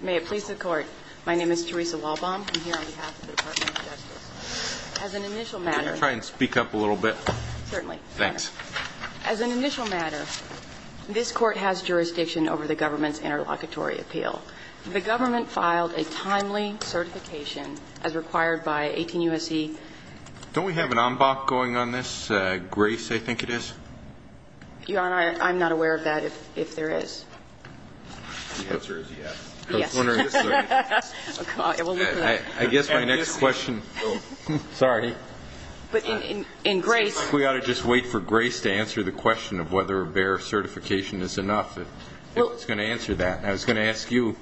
May it please the Court, my name is Theresa Walbaum. I'm here on behalf of the Department of Justice. As an initial matter... Can you try and speak up a little bit? Certainly. Thanks. As an initial matter, this Court has jurisdiction over the government's interlocutory appeal. The government filed a timely certification as required by 18 U.S.C. Don't we have an en bas going on this, Grace, I think it is? Your Honor, I'm not aware of that, if there is. The answer is yes. Yes. I guess my next question... Sorry. But in Grace... We ought to just wait for Grace to answer the question of whether a B.A.R.E. certification is enough. Who's going to answer that? I was going to ask you,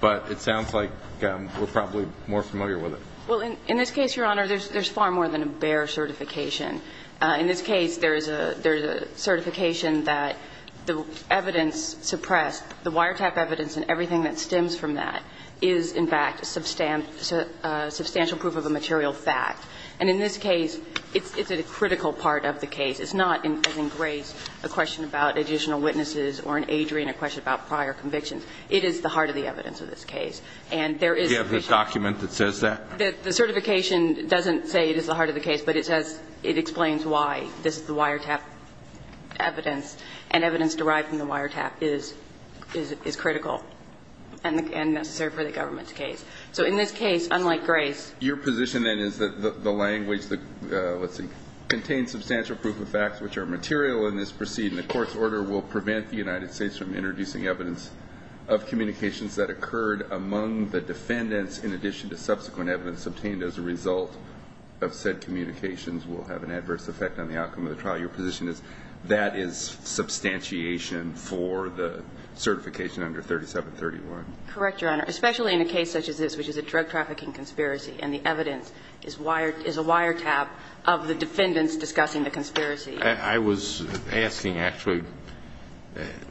but it sounds like we're probably more familiar with it. Well, in this case, Your Honor, there's far more than a B.A.R.E. certification. In this case, there is a certification that the evidence suppressed, the wiretap evidence and everything that stems from that is, in fact, substantial proof of a material fact. And in this case, it's a critical part of the case. It's not, as in Grace, a question about additional witnesses or in Adrian, a question about prior convictions. It is the heart of the evidence of this case. And there is... Is there a document that says that? The certification doesn't say it is the heart of the case, but it says it explains why this is the wiretap evidence. And evidence derived from the wiretap is critical and necessary for the government's case. So in this case, unlike Grace... Your position, then, is that the language that, let's see, contains substantial proof of facts which are material in this proceeding, the Court's order will prevent the United States from introducing evidence of communications that occurred among the defendants, in addition to subsequent evidence obtained as a result of said communications will have an adverse effect on the outcome of the trial. Your position is that is substantiation for the certification under 3731. Correct, Your Honor. Especially in a case such as this, which is a drug trafficking conspiracy, and the evidence is wired – is a wiretap of the defendants discussing the conspiracy. I was asking, actually,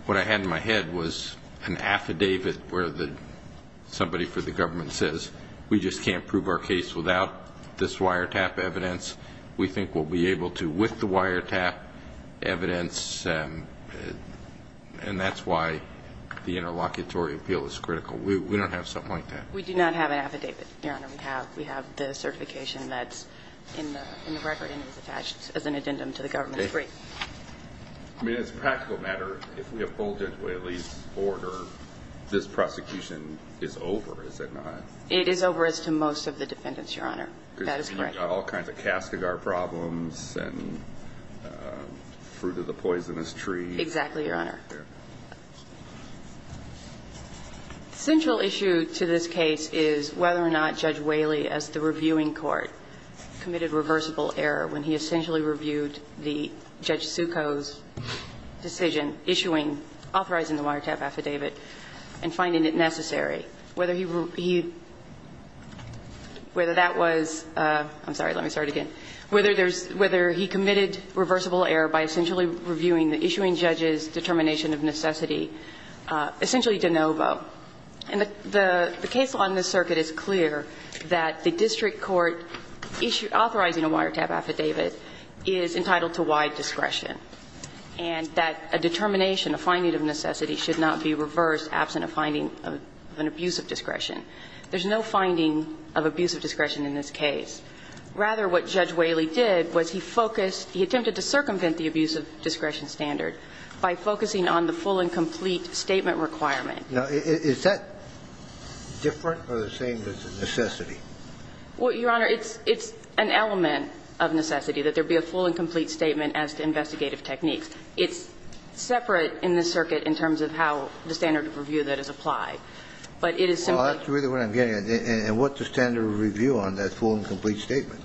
what I had in my head was an affidavit where somebody for the government says, we just can't prove our case without this wiretap evidence. We think we'll be able to with the wiretap evidence, and that's why the interlocutory appeal is critical. We don't have something like that. We have the certification that's in the record, and it's attached as an addendum to the government's brief. I mean, as a practical matter, if we uphold Judge Whaley's order, this prosecution is over, is it not? It is over as to most of the defendants, Your Honor. That is correct. All kinds of Kastigar problems and fruit of the poisonous tree. Exactly, Your Honor. The central issue to this case is whether or not Judge Whaley, as the reviewing court, committed reversible error when he essentially reviewed the Judge Succo's decision issuing – authorizing the wiretap affidavit and finding it necessary. Whether he – whether that was – I'm sorry, let me start again. Whether there's – whether he committed reversible error by essentially reviewing the issuing judge's determination of necessity, essentially de novo. And the case law in this circuit is clear that the district court authorizing a wiretap affidavit is entitled to wide discretion, and that a determination, a finding of necessity, should not be reversed absent a finding of an abuse of discretion. There's no finding of abuse of discretion in this case. Rather, what Judge Whaley did was he focused – he attempted to circumvent the abuse of discretion standard by focusing on the full and complete statement requirement. Now, is that different or the same as a necessity? Well, Your Honor, it's an element of necessity that there be a full and complete statement as to investigative techniques. It's separate in this circuit in terms of how the standard of review that is applied. But it is simply – That's really what I'm getting at. And what's the standard of review on that full and complete statement?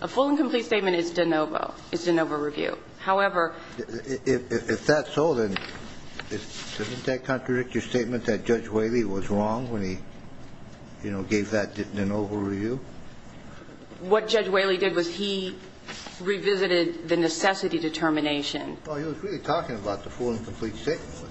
A full and complete statement is de novo. It's de novo review. However – If that's so, then isn't that contradictory statement that Judge Whaley was wrong when he, you know, gave that de novo review? What Judge Whaley did was he revisited the necessity determination. Well, he was really talking about the full and complete statement, wasn't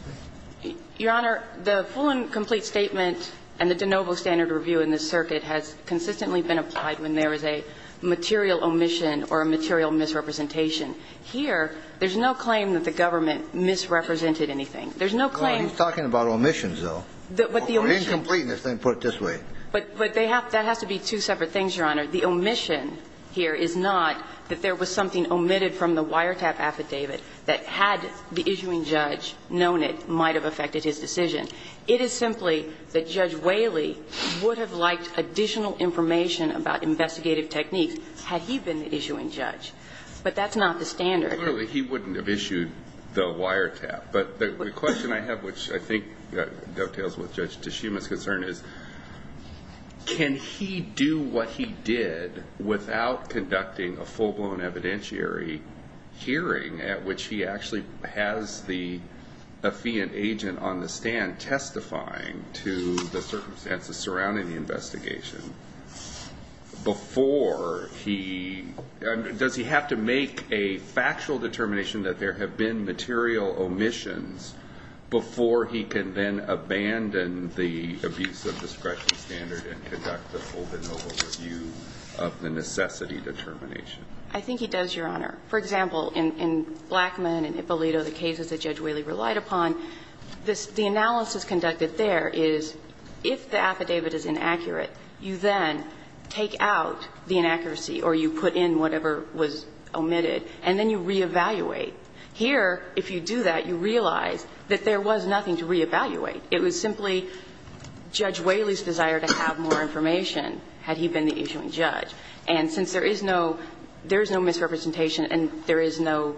he? Your Honor, the full and complete statement and the de novo standard of review in this circuit has consistently been applied when there is a material omission or a material misrepresentation. Here, there's no claim that the government misrepresented anything. There's no claim – Well, he's talking about omissions, though. But the omission – Or incompleteness, let me put it this way. But they have – that has to be two separate things, Your Honor. The omission here is not that there was something omitted from the wiretap affidavit that had the issuing judge known it, might have affected his decision. It is simply that Judge Whaley would have liked additional information about investigative techniques had he been the issuing judge. But that's not the standard. Clearly, he wouldn't have issued the wiretap. But the question I have, which I think dovetails with Judge Tshima's concern, is can he do what he did without conducting a full-blown evidentiary hearing at which he actually has the affiant agent on the stand testifying to the circumstances surrounding the investigation before he – does he have to make a factual determination that there have been material omissions before he can then abandon the abuse of discretion standard and conduct a full-blown overview of the necessity determination? I think he does, Your Honor. For example, in Blackman and Ippolito, the cases that Judge Whaley relied upon, this – the analysis conducted there is if the affidavit is inaccurate, you then take out the inaccuracy or you put in whatever was omitted, and then you reevaluate. Here, if you do that, you realize that there was nothing to reevaluate. It was simply Judge Whaley's desire to have more information had he been the issuing judge. And since there is no – there is no misrepresentation and there is no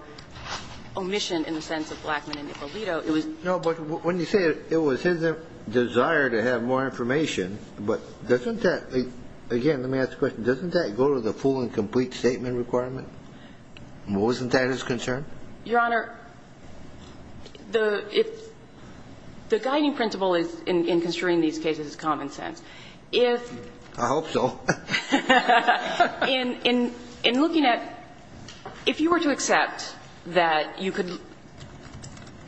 omission in the sense of Blackman and Ippolito, it was – No, but when you say it was his desire to have more information, but doesn't that – again, let me ask the question. Doesn't that go to the full and complete statement requirement? Wasn't that his concern? Your Honor, the – the guiding principle in construing these cases is common sense. If – I hope so. In – in looking at – if you were to accept that you could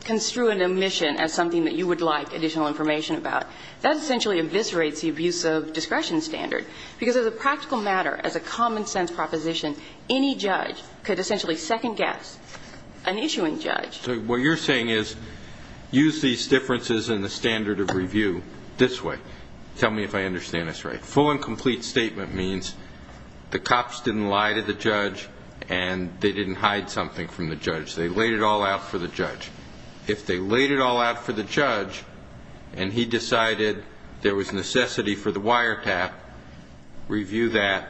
construe an omission as something that you would like additional information about, that essentially eviscerates the abuse of discretion standard, because as a practical matter, as a common sense proposition, any judge could essentially second-guess an issuing judge. So what you're saying is, use these differences in the standard of review this way. Tell me if I understand this right. The full and complete statement means the cops didn't lie to the judge and they didn't hide something from the judge. They laid it all out for the judge. If they laid it all out for the judge and he decided there was necessity for the wiretap, review that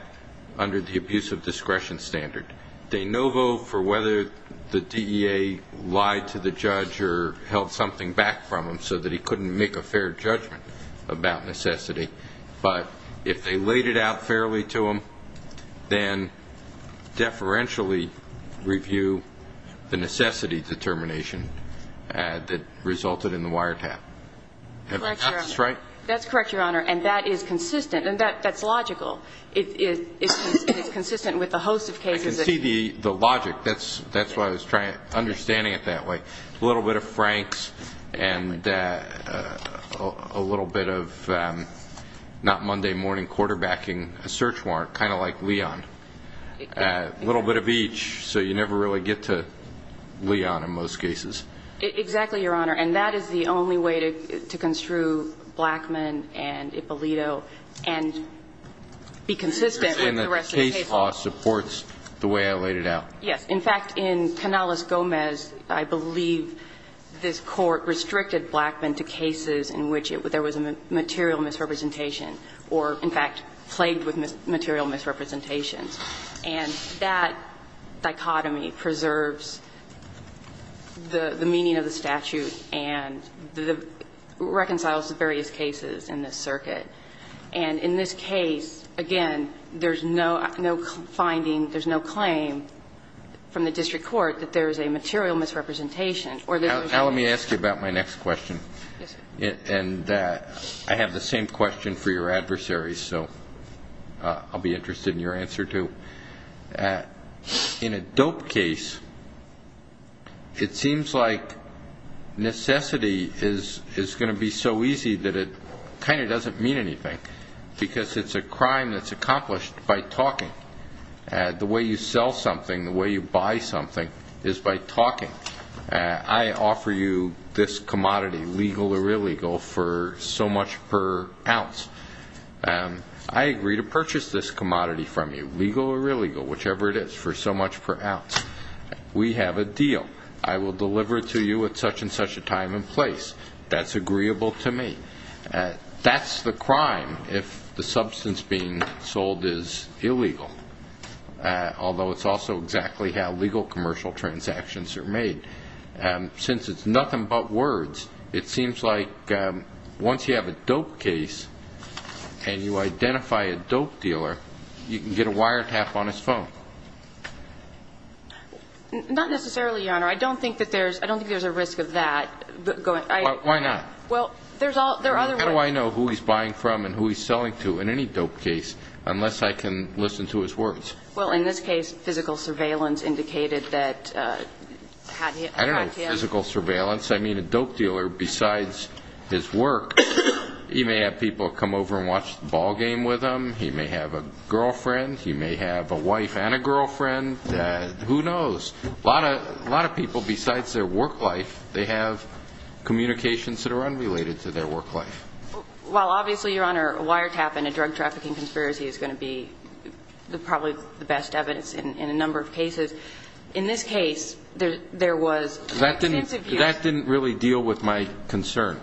under the abuse of discretion standard. They no vote for whether the DEA lied to the judge or held something back from him so that he couldn't make a fair judgment about necessity. But if they laid it out fairly to him, then deferentially review the necessity determination that resulted in the wiretap. Have I got this right? Correct, Your Honor. That's correct, Your Honor. And that is consistent. And that's logical. It's consistent with a host of cases. I can see the logic. That's why I was trying – understanding it that way. A little bit of Franks and a little bit of not Monday morning quarterbacking a search warrant, kind of like Leon. A little bit of each so you never really get to Leon in most cases. Exactly, Your Honor. And that is the only way to construe Blackman and Ippolito and be consistent with the rest of the cases. And the case law supports the way I laid it out. Yes. In fact, in Canales-Gomez, I believe this Court restricted Blackman to cases in which there was a material misrepresentation or, in fact, plagued with material misrepresentations. And that dichotomy preserves the meaning of the statute and reconciles the various cases in this circuit. And in this case, again, there's no finding, there's no claim from the district court that there is a material misrepresentation or that there's a misrepresentation. Now let me ask you about my next question. Yes, sir. And I have the same question for your adversary, so I'll be interested in your answer too. In a dope case, it seems like necessity is going to be so easy that it kind of doesn't mean anything because it's a crime that's accomplished by talking. The way you sell something, the way you buy something is by talking. I offer you this commodity, legal or illegal, for so much per ounce. I agree to purchase this commodity from you, legal or illegal, whichever it is, for so much per ounce. We have a deal. I will deliver it to you at such and such a time and place. That's agreeable to me. That's the crime if the substance being sold is illegal, although it's also exactly how legal commercial transactions are made. Since it's nothing but words, it seems like once you have a dope case and you identify a dope dealer, you can get a wiretap on his phone. Not necessarily, Your Honor. I don't think there's a risk of that. Why not? Well, there are other ways. How do I know who he's buying from and who he's selling to in any dope case unless I can listen to his words? Well, in this case, physical surveillance indicated that he had him. I don't know physical surveillance. I mean, a dope dealer, besides his work, he may have people come over and watch the ballgame with him. He may have a girlfriend. He may have a wife and a girlfriend. Who knows? A lot of people, besides their work life, they have communications that are unrelated to their work life. Well, obviously, Your Honor, a wiretap in a drug trafficking conspiracy is going to be probably the best evidence in a number of cases. In this case, there was extensive use. That didn't really deal with my concern.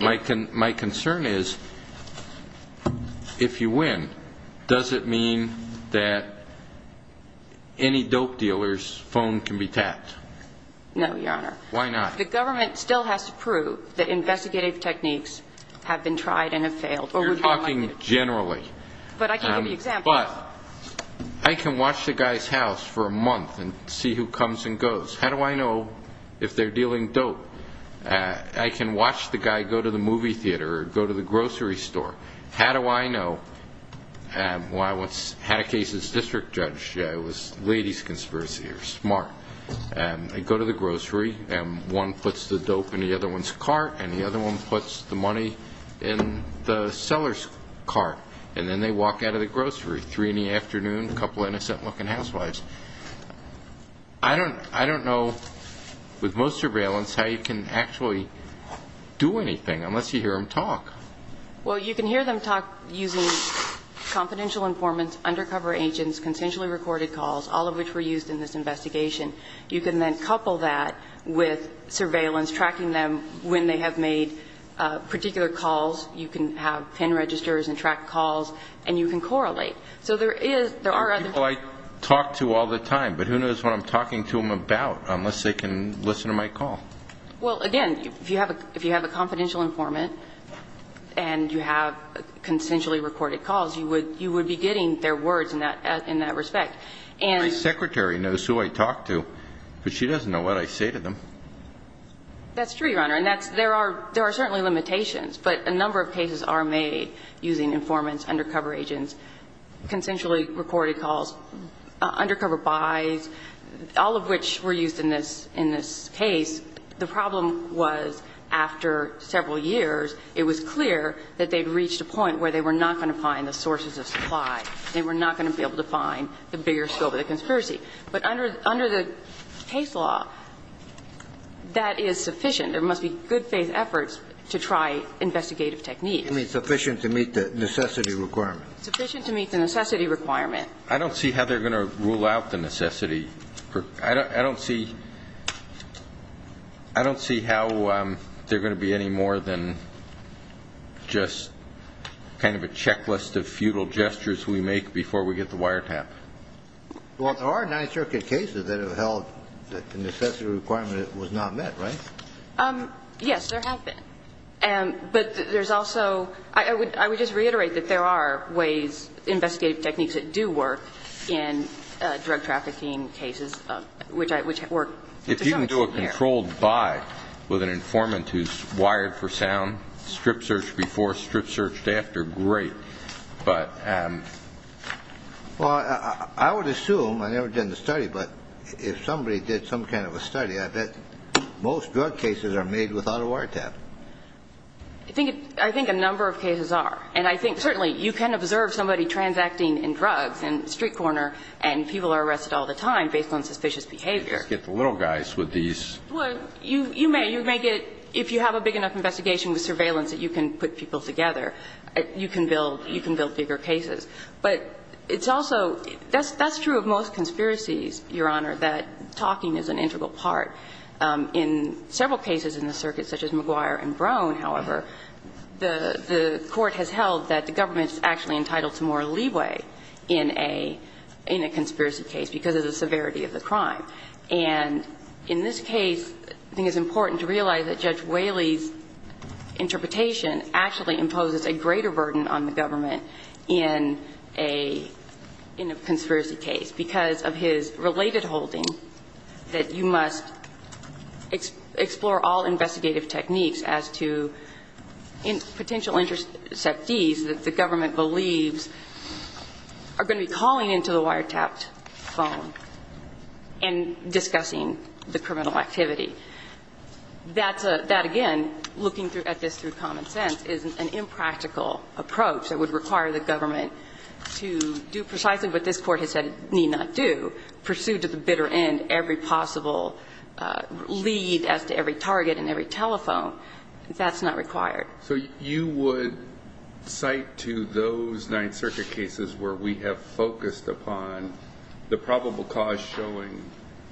My concern is if you win, does it mean that any dope dealer's phone can be tapped? No, Your Honor. Why not? The government still has to prove that investigative techniques have been tried and have failed. You're talking generally. But I can give you examples. But I can watch the guy's house for a month and see who comes and goes. How do I know if they're dealing dope? I can watch the guy go to the movie theater or go to the grocery store. How do I know? Well, I once had a case as district judge. It was a ladies' conspiracy. They're smart. They go to the grocery, and one puts the dope in the other one's cart, and the other one puts the money in the seller's cart. And then they walk out of the grocery, 3 in the afternoon, a couple of innocent-looking housewives. I don't know, with most surveillance, how you can actually do anything unless you hear them talk. Well, you can hear them talk using confidential informants, undercover agents, consensually recorded calls, all of which were used in this investigation. You can then couple that with surveillance, tracking them when they have made particular calls. You can have PIN registers and track calls, and you can correlate. So there are other people I talk to all the time, but who knows what I'm talking to them about unless they can listen to my call? Well, again, if you have a confidential informant and you have consensually recorded calls, you would be getting their words in that respect. My secretary knows who I talk to, but she doesn't know what I say to them. That's true, Your Honor. And there are certainly limitations, but a number of cases are made using informants, undercover agents, consensually recorded calls, undercover buys, all of which were used in this case. The problem was after several years, it was clear that they'd reached a point where they were not going to find the sources of supply. They were not going to be able to find the bigger scope of the conspiracy. But under the case law, that is sufficient. There must be good faith efforts to try investigative techniques. You mean sufficient to meet the necessity requirement? Sufficient to meet the necessity requirement. I don't see how they're going to rule out the necessity. I don't see how they're going to be any more than just kind of a checklist of futile gestures we make before we get the wiretap. Well, there are nine circuit cases that have held that the necessity requirement was not met, right? Yes, there have been. But there's also – I would just reiterate that there are ways, investigative techniques that do work in drug trafficking cases, which work. If you can do a controlled buy with an informant who's wired for sound, strip-searched before, strip-searched after, great. But – Well, I would assume – I never did the study, but if somebody did some kind of a study, I bet most drug cases are made without a wiretap. I think a number of cases are. And I think certainly you can observe somebody transacting in drugs in Street Corner and people are arrested all the time based on suspicious behavior. You just get the little guys with these. Well, you may. You may get – if you have a big enough investigation with surveillance that you can put people together, you can build – you can build bigger cases. But it's also – that's true of most conspiracies, Your Honor, that talking is an integral In several cases in the circuit, such as McGuire and Brown, however, the court has held that the government's actually entitled to more leeway in a – in a conspiracy case because of the severity of the crime. And in this case, I think it's important to realize that Judge Whaley's interpretation actually imposes a greater burden on the government in a – in a conspiracy case because of his related holding that you must explore all investigative techniques as to potential interceptees that the government believes are going to be calling into the wiretapped phone and discussing the criminal activity. That's a – that, again, looking at this through common sense, is an impractical approach that would require the government to do precisely what this Court has said it need not do, pursue to the bitter end every possible lead as to every target and every telephone. That's not required. So you would cite to those Ninth Circuit cases where we have focused upon the probable cause showing,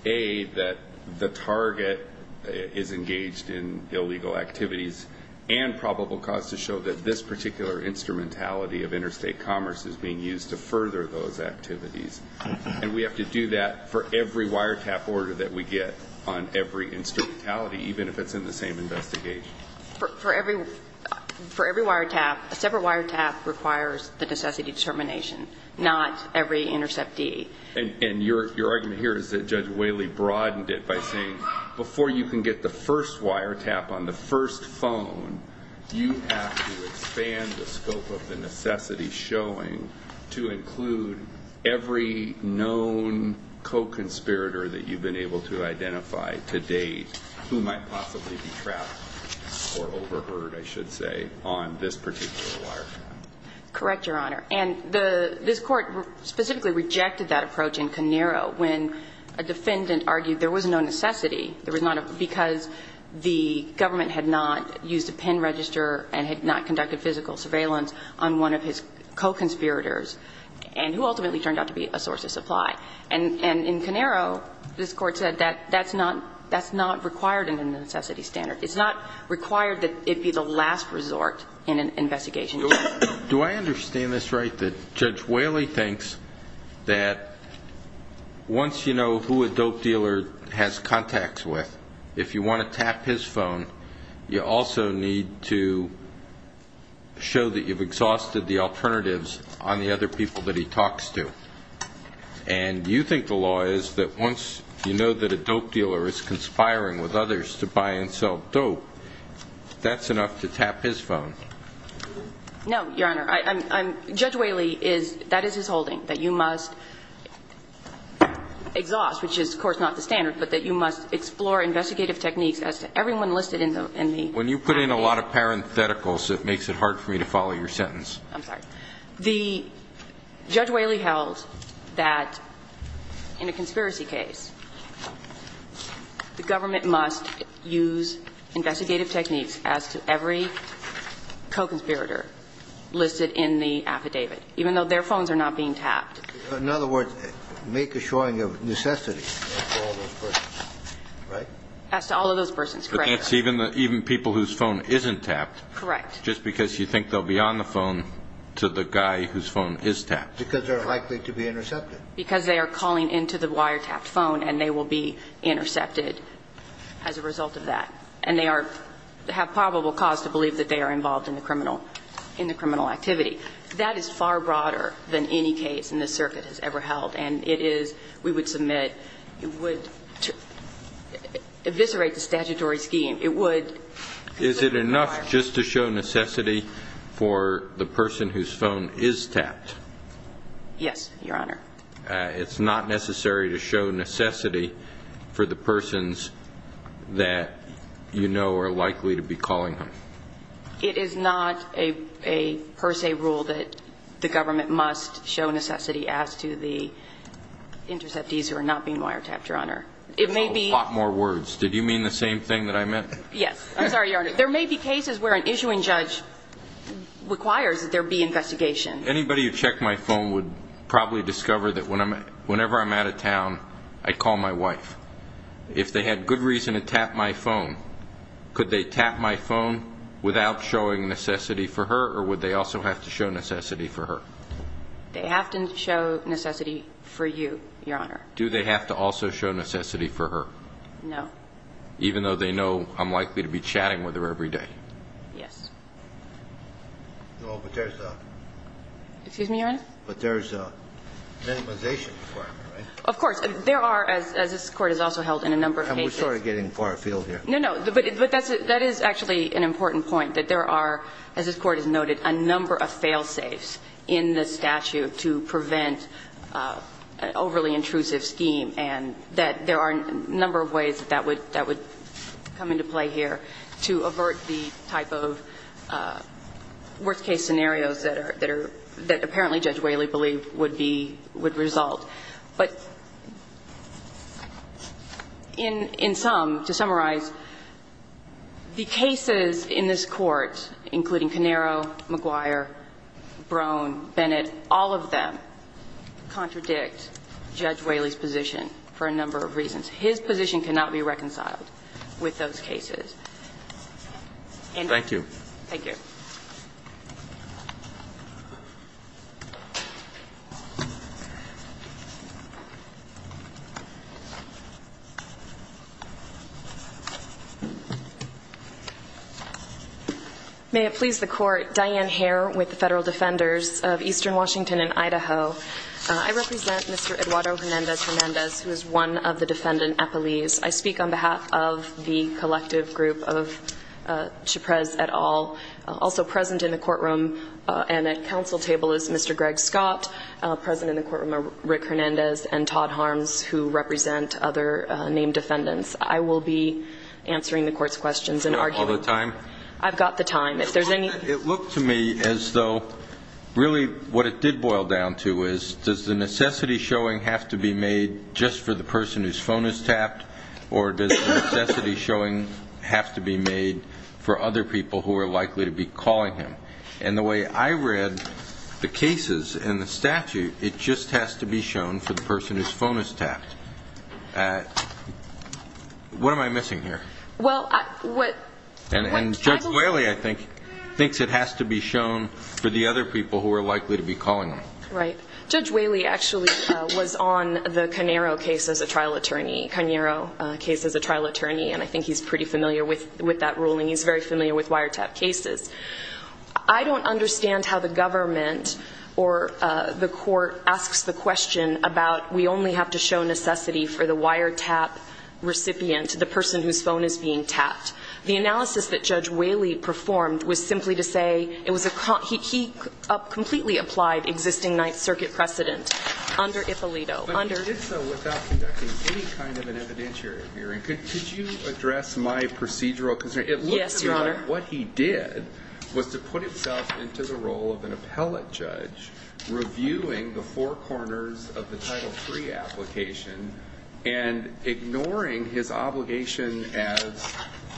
A, that the target is engaged in illegal activities, and probable cause to show that this particular instrumentality of interstate commerce is being used to further those activities. And we have to do that for every wiretap order that we get on every instrumentality, even if it's in the same investigation. For every – for every wiretap, a separate wiretap requires the necessity determination, not every interceptee. And your – your argument here is that Judge Whaley broadened it by saying before you can get the first wiretap on the first phone, you have to expand the scope of the necessity showing to include every known co-conspirator that you've been able to identify to date who might possibly be trapped or overheard, I should say, on this particular wiretap. Correct, Your Honor. And the – this Court specifically rejected that approach in Canero when a defendant argued there was no necessity. There was not a – because the government had not used a PIN register and had not conducted physical surveillance on one of his co-conspirators, and who ultimately turned out to be a source of supply. And – and in Canero, this Court said that that's not – that's not required in the necessity standard. It's not required that it be the last resort in an investigation. Your Honor, do I understand this right, that Judge Whaley thinks that once you know who a dope dealer has contacts with, if you want to tap his phone, you also need to show that you've exhausted the alternatives on the other people that he talks to? And you think the law is that once you know that a dope dealer is conspiring with others to buy and sell dope, that's enough to tap his phone? No, Your Honor. I'm – I'm – Judge Whaley is – that is his holding, that you must exhaust, which is, of course, not the standard, but that you must explore investigative techniques as to everyone listed in the – in the… When you put in a lot of parentheticals, it makes it hard for me to follow your sentence. I'm sorry. The – Judge Whaley held that in a conspiracy case, the government must use investigative techniques as to every co-conspirator listed in the affidavit, even though their phones are not being tapped. In other words, make a showing of necessity for all those persons, right? As to all of those persons, correct. But that's even the – even people whose phone isn't tapped. Correct. Just because you think they'll be on the phone to the guy whose phone is tapped. Because they're likely to be intercepted. Because they are calling into the wiretapped phone and they will be intercepted as a result of that. And they are – have probable cause to believe that they are involved in the criminal – in the criminal activity. That is far broader than any case in this circuit has ever held. And it is – we would submit – it would eviscerate the statutory scheme. It would… Is it enough just to show necessity for the person whose phone is tapped? Yes, Your Honor. It's not necessary to show necessity for the persons that you know are likely to be calling them. It is not a per se rule that the government must show necessity as to the interceptees who are not being wiretapped, Your Honor. It may be… A lot more words. Did you mean the same thing that I meant? Yes. I'm sorry, Your Honor. There may be cases where an issuing judge requires that there be investigation. Anybody who checked my phone would probably discover that whenever I'm out of town, I call my wife. If they had good reason to tap my phone, could they tap my phone without showing necessity for her or would they also have to show necessity for her? They have to show necessity for you, Your Honor. Do they have to also show necessity for her? No. Even though they know I'm likely to be chatting with her every day? Yes. No, but there's a… Excuse me, Your Honor? But there's a minimization requirement, right? Of course. There are, as this Court has also held in a number of cases… And we're sort of getting far afield here. No, no. But that is actually an important point, that there are, as this Court has noted, a number of fail-safes in the statute to prevent an overly intrusive scheme and that there are a number of ways that would come into play here to avert the type of worst-case scenarios that apparently Judge Whaley believed would result. But in sum, to summarize, the cases in this Court, including Canero, McGuire, Brone, Bennett, all of them contradict Judge Whaley's position for a number of reasons. His position cannot be reconciled with those cases. Thank you. May it please the Court, Diane Hare with the Federal Defenders of Eastern Washington in Idaho. I represent Mr. Eduardo Hernandez-Hernandez, who is one of the defendant appellees. I speak on behalf of the collective group of Chuprez et al., also present in the courtroom, and at counsel table is Mr. Greg Smith. Mr. Scott, present in the courtroom are Rick Hernandez and Todd Harms, who represent other named defendants. I will be answering the Court's questions and arguing. Do you have all the time? I've got the time. It looked to me as though really what it did boil down to is, does the necessity showing have to be made just for the person whose phone is tapped, or does the necessity showing have to be made for other people who are likely to be calling him? And the way I read the cases in the statute, it just has to be shown for the person whose phone is tapped. What am I missing here? Well, what ‑‑ And Judge Whaley, I think, thinks it has to be shown for the other people who are likely to be calling him. Right. Judge Whaley actually was on the Canero case as a trial attorney, and I think he's pretty familiar with that ruling. He's very familiar with wiretap cases. I don't understand how the government or the Court asks the question about we only have to show necessity for the wiretap recipient, the person whose phone is being tapped. The analysis that Judge Whaley performed was simply to say it was a ‑‑ he completely applied existing Ninth Circuit precedent under Ippolito. But he did so without conducting any kind of an evidentiary hearing. Yes, Your Honor. But what he did was to put himself into the role of an appellate judge reviewing the four corners of the Title III application and ignoring his obligation as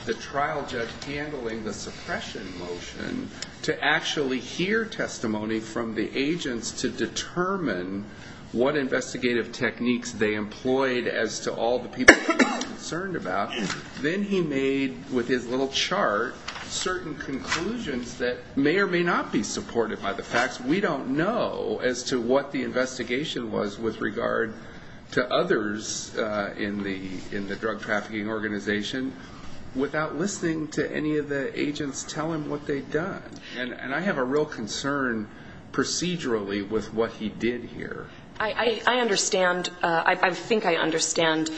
the trial judge handling the suppression motion to actually hear testimony from the agents to determine what investigative techniques they employed as to all the people they were concerned about. Then he made, with his little chart, certain conclusions that may or may not be supported by the facts. We don't know as to what the investigation was with regard to others in the drug trafficking organization without listening to any of the agents tell him what they'd done. And I have a real concern procedurally with what he did here. I understand. I think I understand.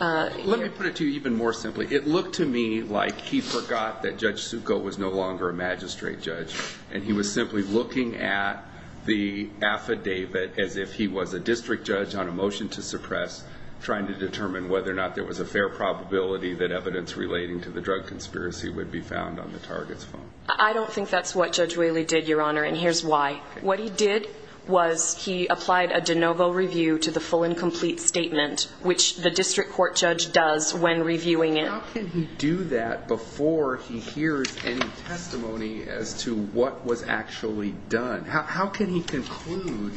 Let me put it to you even more simply. It looked to me like he forgot that Judge Suko was no longer a magistrate judge and he was simply looking at the affidavit as if he was a district judge on a motion to suppress trying to determine whether or not there was a fair probability that evidence relating to the drug conspiracy would be found on the target's phone. I don't think that's what Judge Whaley did, Your Honor, and here's why. What he did was he applied a de novo review to the full and complete statement which the district court judge does when reviewing it. How can he do that before he hears any testimony as to what was actually done? How can he conclude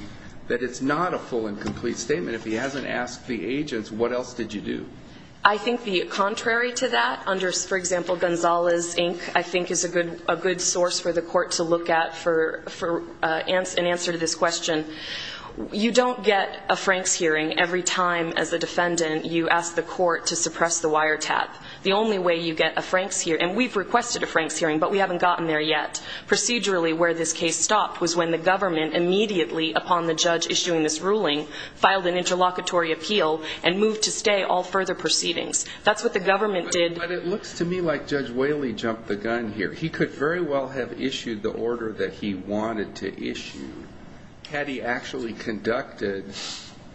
that it's not a full and complete statement if he hasn't asked the agents, what else did you do? I think the contrary to that under, for example, Gonzales, Inc., I think is a good source for the court to look at for an answer to this question. You don't get a Franks hearing every time as a defendant you ask the court to suppress the wiretap. The only way you get a Franks hearing, and we've requested a Franks hearing, but we haven't gotten there yet, procedurally where this case stopped was when the government immediately upon the judge issuing this ruling filed an interlocutory appeal and moved to stay all further proceedings. That's what the government did. But it looks to me like Judge Whaley jumped the gun here. He could very well have issued the order that he wanted to issue. Had he actually conducted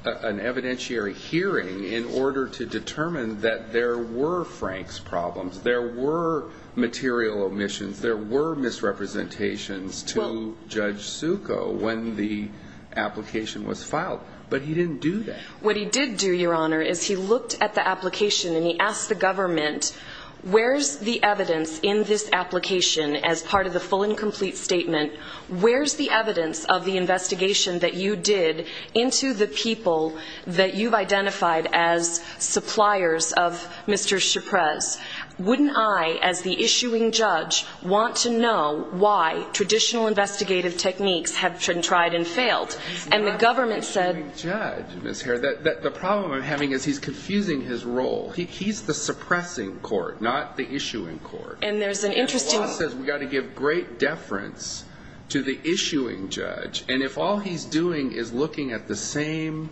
an evidentiary hearing in order to determine that there were Franks problems, there were material omissions, there were misrepresentations to Judge Succo when the application was filed. But he didn't do that. What he did do, Your Honor, is he looked at the application and he asked the government, where's the evidence in this application as part of the full and complete statement, where's the evidence of the investigation that you did into the people that you've identified as suppliers of Mr. Chiprez? Wouldn't I, as the issuing judge, want to know why traditional investigative techniques have been tried and failed? And the government said the problem I'm having is he's confusing his role. He's the suppressing court, not the issuing court. And there's an interesting... The law says we've got to give great deference to the issuing judge, and if all he's doing is looking at the same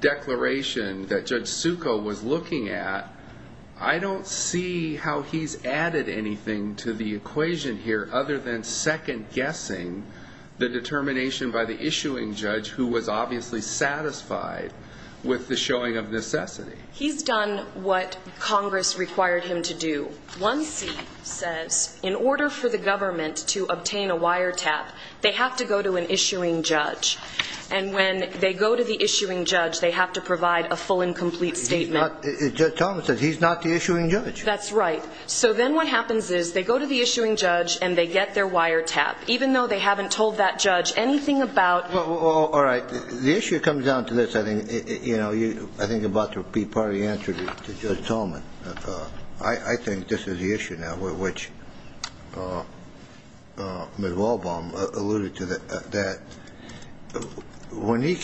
declaration that Judge Succo was looking at, I don't see how he's added anything to the equation here other than second-guessing the determination by the issuing judge who was obviously satisfied with the showing of necessity. He's done what Congress required him to do. One C says in order for the government to obtain a wiretap, they have to go to an issuing judge. And when they go to the issuing judge, they have to provide a full and complete statement. Judge Tolman says he's not the issuing judge. That's right. So then what happens is they go to the issuing judge and they get their wiretap, even though they haven't told that judge anything about... All right. The issue comes down to this, I think, about to be part of the answer to Judge Tolman. I think this is the issue now, which Ms. Walbaum alluded to, that when he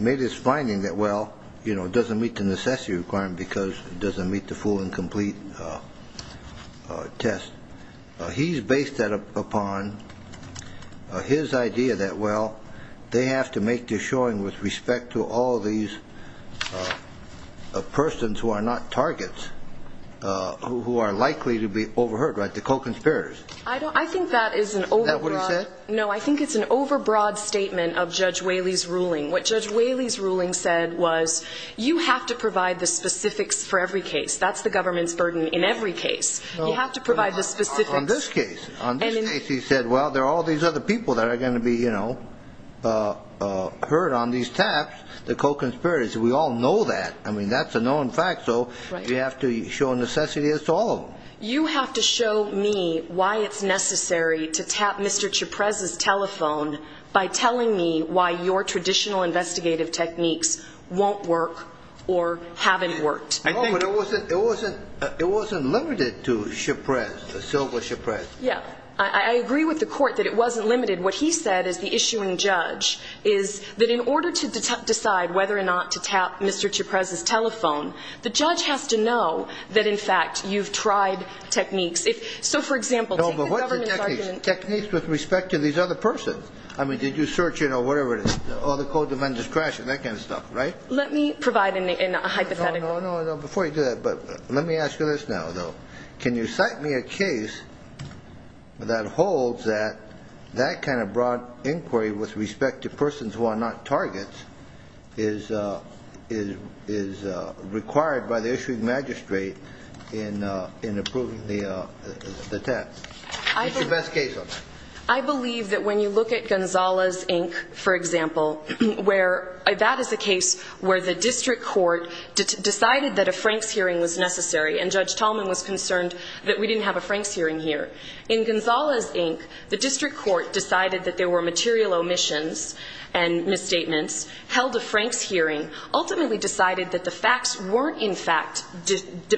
made his finding that, well, it doesn't meet the necessity requirement because it doesn't meet the full and complete test, he's based that upon his idea that, well, they have to make the showing with respect to all these persons who are not targets, who are likely to be overheard, like the co-conspirators. I think that is an overbroad... Is that what he said? No, I think it's an overbroad statement of Judge Whaley's ruling. What Judge Whaley's ruling said was you have to provide the specifics for every case. That's the government's burden in every case. You have to provide the specifics. On this case. On this case, he said, well, there are all these other people that are going to be heard on these taps, the co-conspirators. We all know that. I mean, that's a known fact, so you have to show necessity to all of them. You have to show me why it's necessary to tap Mr. Chaprez's telephone by telling me why your traditional investigative techniques won't work or haven't worked. No, but it wasn't limited to Chaprez, Silva-Chaprez. Yeah. I agree with the Court that it wasn't limited. What he said as the issuing judge is that in order to decide whether or not to tap Mr. Chaprez's telephone, the judge has to know that, in fact, you've tried techniques. So, for example, take the government's argument... No, but what's the technique? Techniques with respect to these other persons. I mean, did you search in or whatever it is, all the co-defenders crashing, that kind of stuff, right? Let me provide a hypothetical. No, no, no, before you do that, but let me ask you this now, though. Can you cite me a case that holds that that kind of broad inquiry with respect to persons who are not targets is required by the issuing magistrate in approving the tap? What's your best case on that? I believe that when you look at Gonzales, Inc., for example, that is a case where the district court decided that a Franks hearing was necessary and Judge Tallman was concerned that we didn't have a Franks hearing here. In Gonzales, Inc., the district court decided that there were material omissions and misstatements, held a Franks hearing, ultimately decided that the facts weren't, in fact,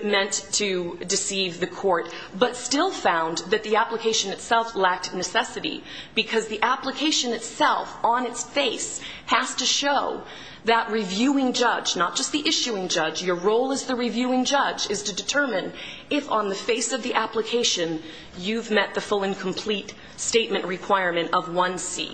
meant to deceive the court, but still found that the application itself lacked necessity because the application itself, on its face, has to show that reviewing judge, not just the issuing judge, your role as the reviewing judge is to determine if on the face of the application you've met the full and complete statement requirement of 1c.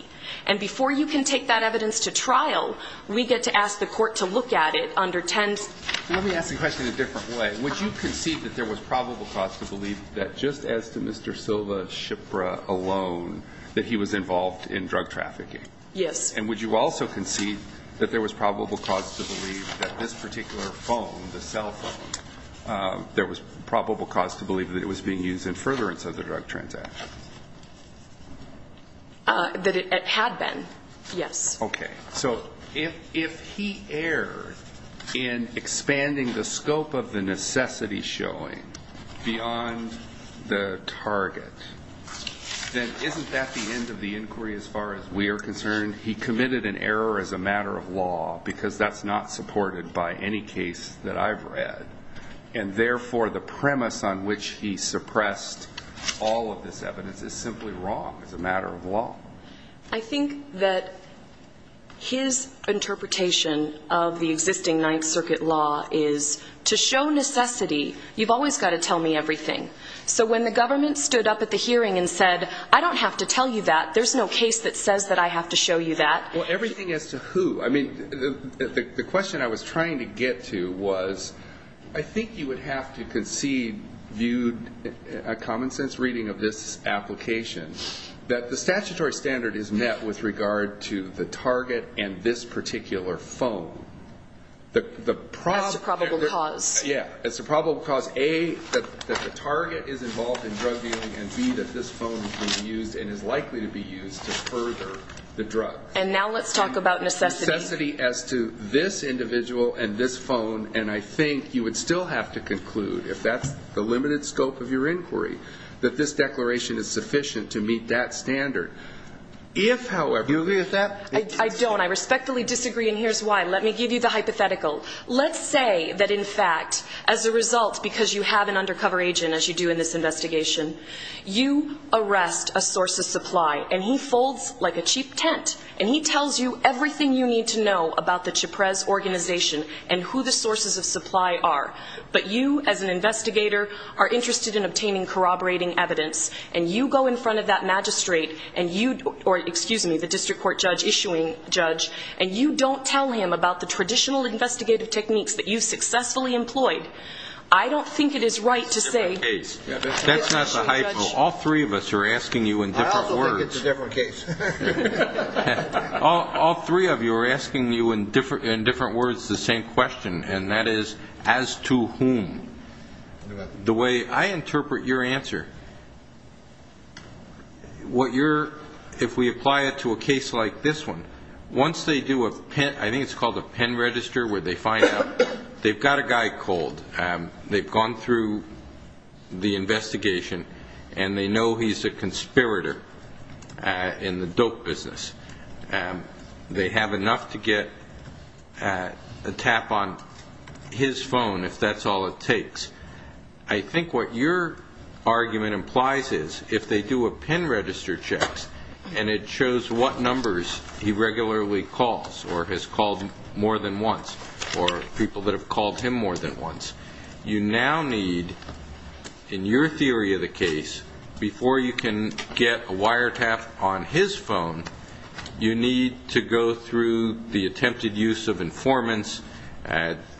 And before you can take that evidence to trial, we get to ask the court to look at it under 10c. Let me ask the question a different way. Would you concede that there was probable cause to believe that just as to Mr. Silva, Shipra alone, that he was involved in drug trafficking? Yes. And would you also concede that there was probable cause to believe that this particular phone, the cell phone, there was probable cause to believe that it was being used in furtherance of the drug transactions? That it had been, yes. Okay. So if he erred in expanding the scope of the necessity showing beyond the target, then isn't that the end of the inquiry as far as we are concerned? He committed an error as a matter of law because that's not supported by any case that I've read, and therefore the premise on which he suppressed all of this evidence is simply wrong. It's a matter of law. I think that his interpretation of the existing Ninth Circuit law is to show necessity, you've always got to tell me everything. So when the government stood up at the hearing and said, I don't have to tell you that, there's no case that says that I have to show you that. Well, everything as to who. I mean, the question I was trying to get to was I think you would have to concede, a common sense reading of this application, that the statutory standard is met with regard to the target and this particular phone. As to probable cause. Yeah. As to probable cause, A, that the target is involved in drug dealing, and B, that this phone was used and is likely to be used to further the drug. And now let's talk about necessity. Necessity as to this individual and this phone, and I think you would still have to conclude, if that's the limited scope of your inquiry, that this declaration is sufficient to meet that standard. If, however, you agree with that. I don't. I respectfully disagree, and here's why. Let me give you the hypothetical. Let's say that, in fact, as a result, because you have an undercover agent, as you do in this investigation, you arrest a source of supply, and he folds like a cheap tent, and he tells you everything you need to know about the CHPREZ organization and who the sources of supply are. But you, as an investigator, are interested in obtaining corroborating evidence, and you go in front of that magistrate and you, or excuse me, the district court judge issuing judge, and you don't tell him about the traditional investigative techniques that you successfully employed. I don't think it is right to say. That's not the hypo. All three of us are asking you in different words. I also think it's a different case. All three of you are asking you in different words the same question, and that is, as to whom? The way I interpret your answer, what you're, if we apply it to a case like this one, once they do a pen, I think it's called a pen register where they find out, they've got a guy cold. They've gone through the investigation, and they know he's a conspirator in the dope business. They have enough to get a tap on his phone if that's all it takes. I think what your argument implies is, if they do a pen register check and it shows what numbers he regularly calls or has called more than once, or people that have called him more than once, you now need, in your theory of the case, before you can get a wire tap on his phone, you need to go through the attempted use of informants,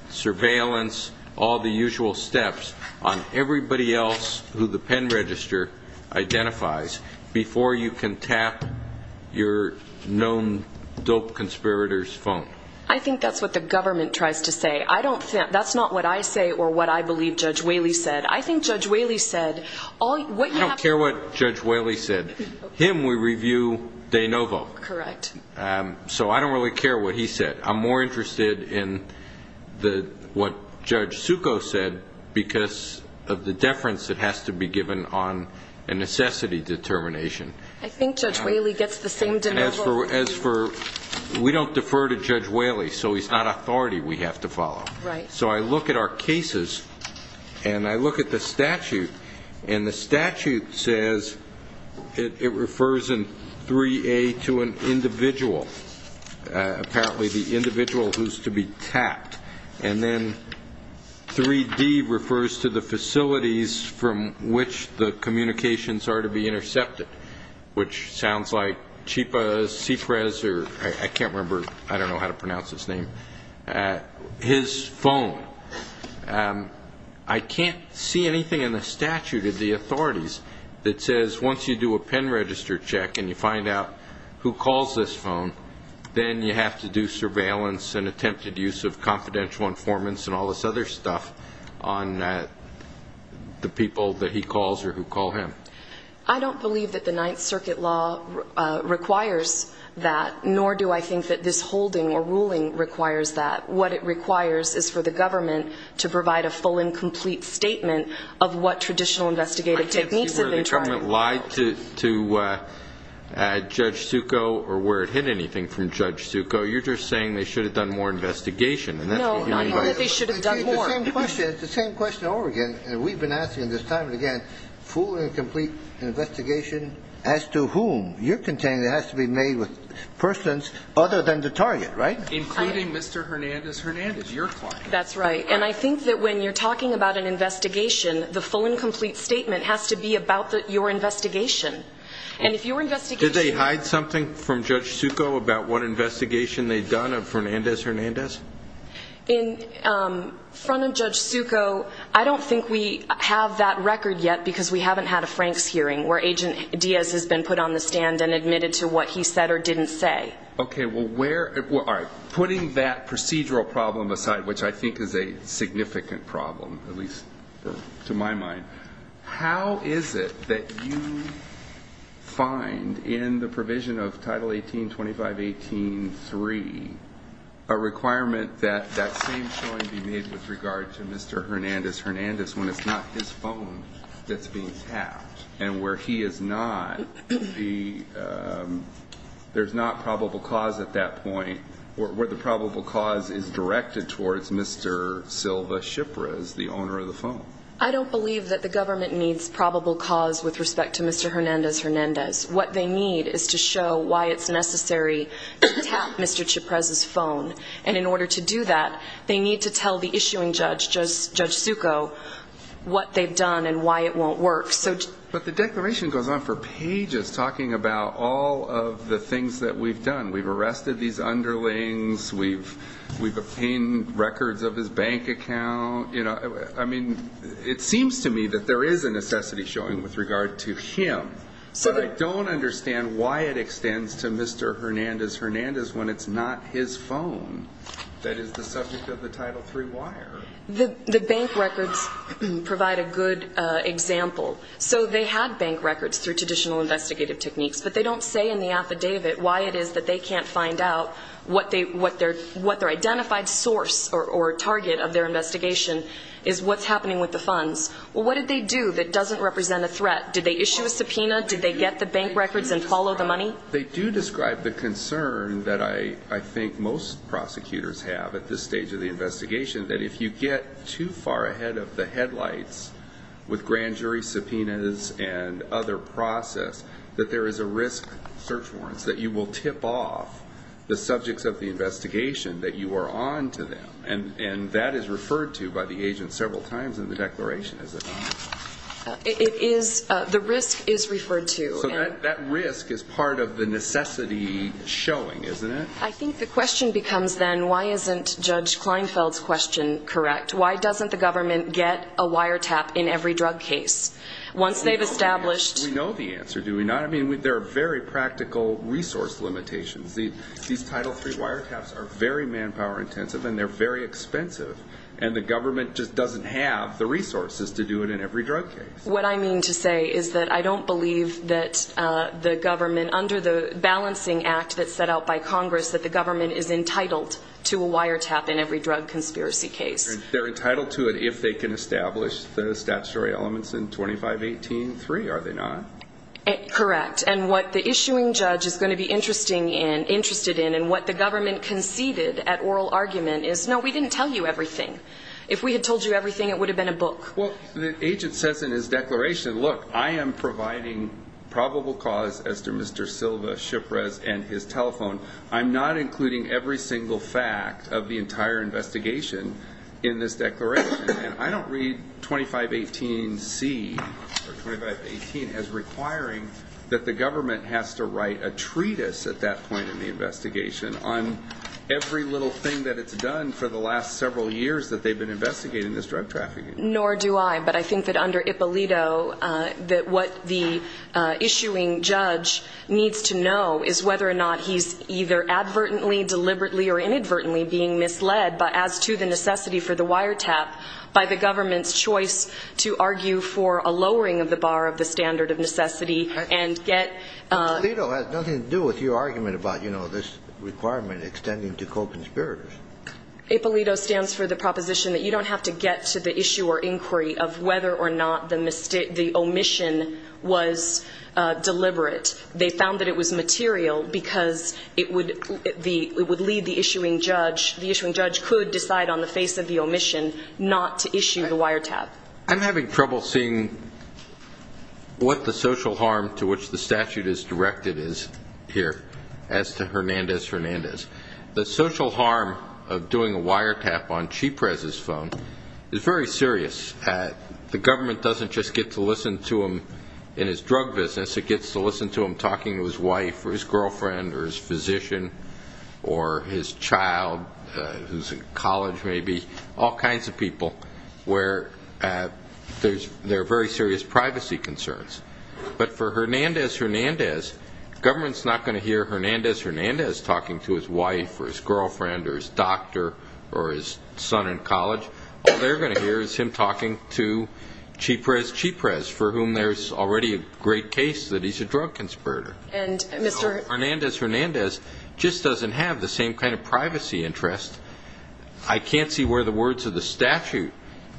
surveillance, all the usual steps on everybody else who the pen register identifies before you can tap your known dope conspirator's phone. I think that's what the government tries to say. I don't think, that's not what I say or what I believe Judge Whaley said. I think Judge Whaley said all, what you have to. I don't care what Judge Whaley said. Him, we review de novo. Correct. So I don't really care what he said. I'm more interested in what Judge Succo said because of the deference that has to be given on a necessity determination. I think Judge Whaley gets the same de novo. We don't defer to Judge Whaley, so he's not authority we have to follow. Right. So I look at our cases and I look at the statute, and the statute says it refers in 3A to an individual, apparently the individual who's to be tapped, and then 3D refers to the facilities from which the communications are to be intercepted, which sounds like Chipa Cifres, or I can't remember, I don't know how to pronounce his name, his phone. I can't see anything in the statute of the authorities that says once you do a pen register check and you find out who calls this phone, then you have to do surveillance and attempted use of confidential informants and all this other stuff on the people that he calls or who call him. I don't believe that the Ninth Circuit law requires that, nor do I think that this holding or ruling requires that. What it requires is for the government to provide a full and complete statement of what traditional investigative techniques have been trying to do. I can't see where the government lied to Judge Succo or where it hid anything from Judge Succo. You're just saying they should have done more investigation. No, I'm not saying they should have done more. It's the same question over again, and we've been asking this time and again, full and complete investigation as to whom you're containing that has to be made with persons other than the target, right? Including Mr. Hernandez-Hernandez, your client. That's right, and I think that when you're talking about an investigation, the full and complete statement has to be about your investigation. Did they hide something from Judge Succo about what investigation they'd done of Hernandez-Hernandez? In front of Judge Succo, I don't think we have that record yet because we haven't had a Franks hearing where Agent Diaz has been put on the stand and admitted to what he said or didn't say. Okay, well, where are you putting that procedural problem aside, which I think is a significant problem, at least to my mind, how is it that you find in the provision of Title 1825.18.3 a requirement that that same showing be made with regard to Mr. Hernandez-Hernandez when it's not his phone that's being tapped and where he is not the ‑‑ there's not probable cause at that point, where the probable cause is directed towards Mr. Silva-Shipra as the owner of the phone? I don't believe that the government needs probable cause with respect to Mr. Hernandez-Hernandez. What they need is to show why it's necessary to tap Mr. Chiprez's phone. And in order to do that, they need to tell the issuing judge, Judge Succo, what they've done and why it won't work. But the declaration goes on for pages talking about all of the things that we've done. We've arrested these underlings. We've obtained records of his bank account. I mean, it seems to me that there is a necessity showing with regard to him, but I don't understand why it extends to Mr. Hernandez-Hernandez when it's not his phone that is the subject of the Title III wire. The bank records provide a good example. So they had bank records through traditional investigative techniques, but they don't say in the affidavit why it is that they can't find out what their identified source or target of their investigation is what's happening with the funds. Well, what did they do that doesn't represent a threat? Did they issue a subpoena? Did they get the bank records and follow the money? They do describe the concern that I think most prosecutors have at this stage of the investigation, that if you get too far ahead of the headlights with grand jury subpoenas and other process, that there is a risk, search warrants, that you will tip off the subjects of the investigation that you are on to them, and that is referred to by the agent several times in the declaration, isn't it? It is. The risk is referred to. So that risk is part of the necessity showing, isn't it? I think the question becomes then why isn't Judge Kleinfeld's question correct? Why doesn't the government get a wiretap in every drug case? Once they've established the answer. Do we know the answer? Do we not? I mean, there are very practical resource limitations. These Title III wiretaps are very manpower intensive and they're very expensive, and the government just doesn't have the resources to do it in every drug case. What I mean to say is that I don't believe that the government, under the balancing act that's set out by Congress, that the government is entitled to a wiretap in every drug conspiracy case. They're entitled to it if they can establish the statutory elements in 2518-3, are they not? Correct. And what the issuing judge is going to be interested in and what the government conceded at oral argument is, no, we didn't tell you everything. If we had told you everything, it would have been a book. Well, the agent says in his declaration, look, I am providing probable cause as to Mr. Silva, Shipra's, and his telephone. I'm not including every single fact of the entire investigation in this declaration. And I don't read 2518-C or 2518 as requiring that the government has to write a treatise at that point in the investigation on every little thing that it's done for the last several years that they've been investigating this drug trafficking. Nor do I, but I think that under Ippolito that what the issuing judge needs to know is whether or not he's either advertently, deliberately, or inadvertently being misled, as to the necessity for the wiretap, by the government's choice to argue for a lowering of the bar of the standard of necessity and get... Ippolito has nothing to do with your argument about, you know, this requirement extending to co-conspirators. Ippolito stands for the proposition that you don't have to get to the issue or inquiry of whether or not the omission was deliberate. They found that it was material because it would lead the issuing judge, the issuing judge could decide on the face of the omission not to issue the wiretap. I'm having trouble seeing what the social harm to which the statute is directed is here as to Hernandez-Hernandez. The social harm of doing a wiretap on Chyprez's phone is very serious. The government doesn't just get to listen to him in his drug business. It gets to listen to him talking to his wife or his girlfriend or his physician or his child who's in college, maybe, all kinds of people where there are very serious privacy concerns. But for Hernandez-Hernandez, the government's not going to hear Hernandez-Hernandez talking to his wife or his girlfriend or his doctor or his son in college. All they're going to hear is him talking to Chyprez-Chyprez, for whom there's already a great case that he's a drug conspirator. Hernandez-Hernandez just doesn't have the same kind of privacy interest. I can't see where the words of the statute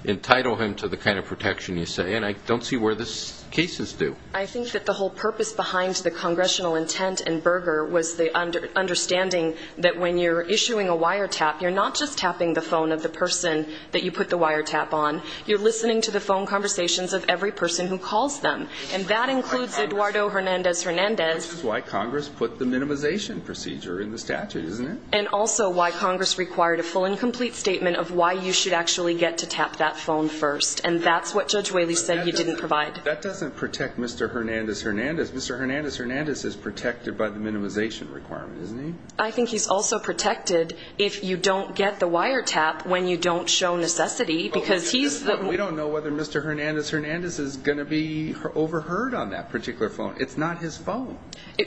entitle him to the kind of protection you say, and I don't see where the cases do. I think that the whole purpose behind the congressional intent in Berger was the understanding that when you're issuing a wiretap, you're not just tapping the phone of the person that you put the wiretap on. You're listening to the phone conversations of every person who calls them, and that includes Eduardo Hernandez-Hernandez. This is why Congress put the minimization procedure in the statute, isn't it? And also why Congress required a full and complete statement of why you should actually get to tap that phone first, and that's what Judge Whaley said he didn't provide. That doesn't protect Mr. Hernandez-Hernandez. Mr. Hernandez-Hernandez is protected by the minimization requirement, isn't he? I think he's also protected if you don't get the wiretap when you don't show necessity because he's the... We don't know whether Mr. Hernandez-Hernandez is going to be overheard on that particular phone. It's not his phone.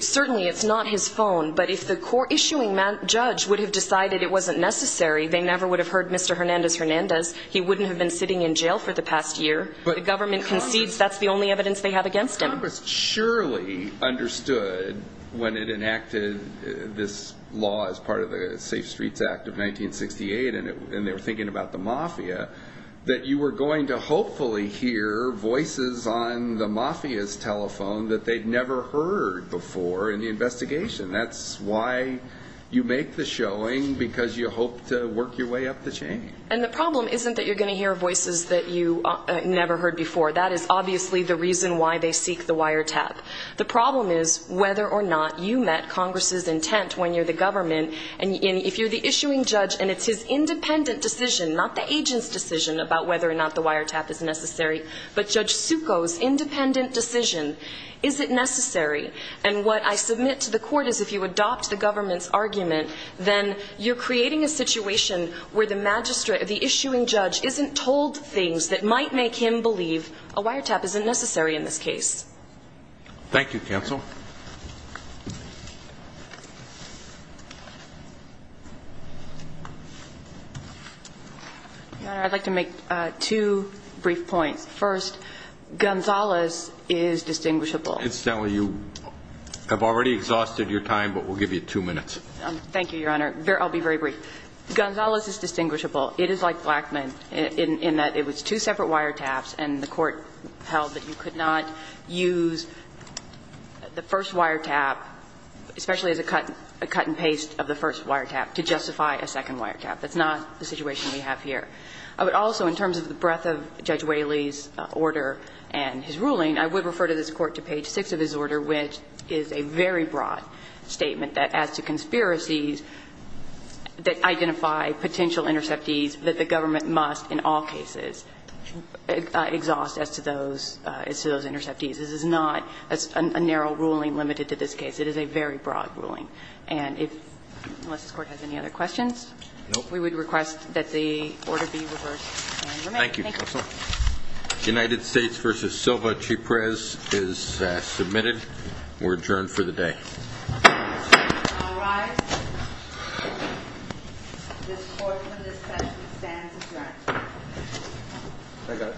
Certainly it's not his phone, but if the issuing judge would have decided it wasn't necessary, they never would have heard Mr. Hernandez-Hernandez. He wouldn't have been sitting in jail for the past year. The government concedes that's the only evidence they have against him. Congress surely understood when it enacted this law as part of the Safe Streets Act of 1968 and they were thinking about the mafia, that you were going to hopefully hear voices on the mafia's telephone that they'd never heard before in the investigation. That's why you make the showing because you hope to work your way up the chain. And the problem isn't that you're going to hear voices that you never heard before. That is obviously the reason why they seek the wiretap. The problem is whether or not you met Congress's intent when you're the government, and if you're the issuing judge and it's his independent decision, not the agent's decision about whether or not the wiretap is necessary, but Judge Succo's independent decision, is it necessary? And what I submit to the court is if you adopt the government's argument, then you're creating a situation where the magistrate, the issuing judge, isn't told things that might make him believe a wiretap isn't necessary in this case. Thank you, counsel. Your Honor, I'd like to make two brief points. First, Gonzales is distinguishable. Incidentally, you have already exhausted your time, but we'll give you two minutes. Thank you, Your Honor. I'll be very brief. Gonzales is distinguishable. It is like Blackmun in that it was two separate wiretaps, especially as a cut and paste of the first wiretap, to justify a second wiretap. That's not the situation we have here. I would also, in terms of the breadth of Judge Whaley's order and his ruling, I would refer to this Court to page 6 of his order, which is a very broad statement that as to conspiracies that identify potential interceptees that the government must in all cases exhaust as to those interceptees. This is not a narrow ruling limited to this case. It is a very broad ruling. Unless this Court has any other questions. Nope. We would request that the order be reversed and remain. Thank you, counsel. United States v. Silva-Chiprez is submitted. We're adjourned for the day. All rise. This Court in this session stands adjourned. I got it. Thank you.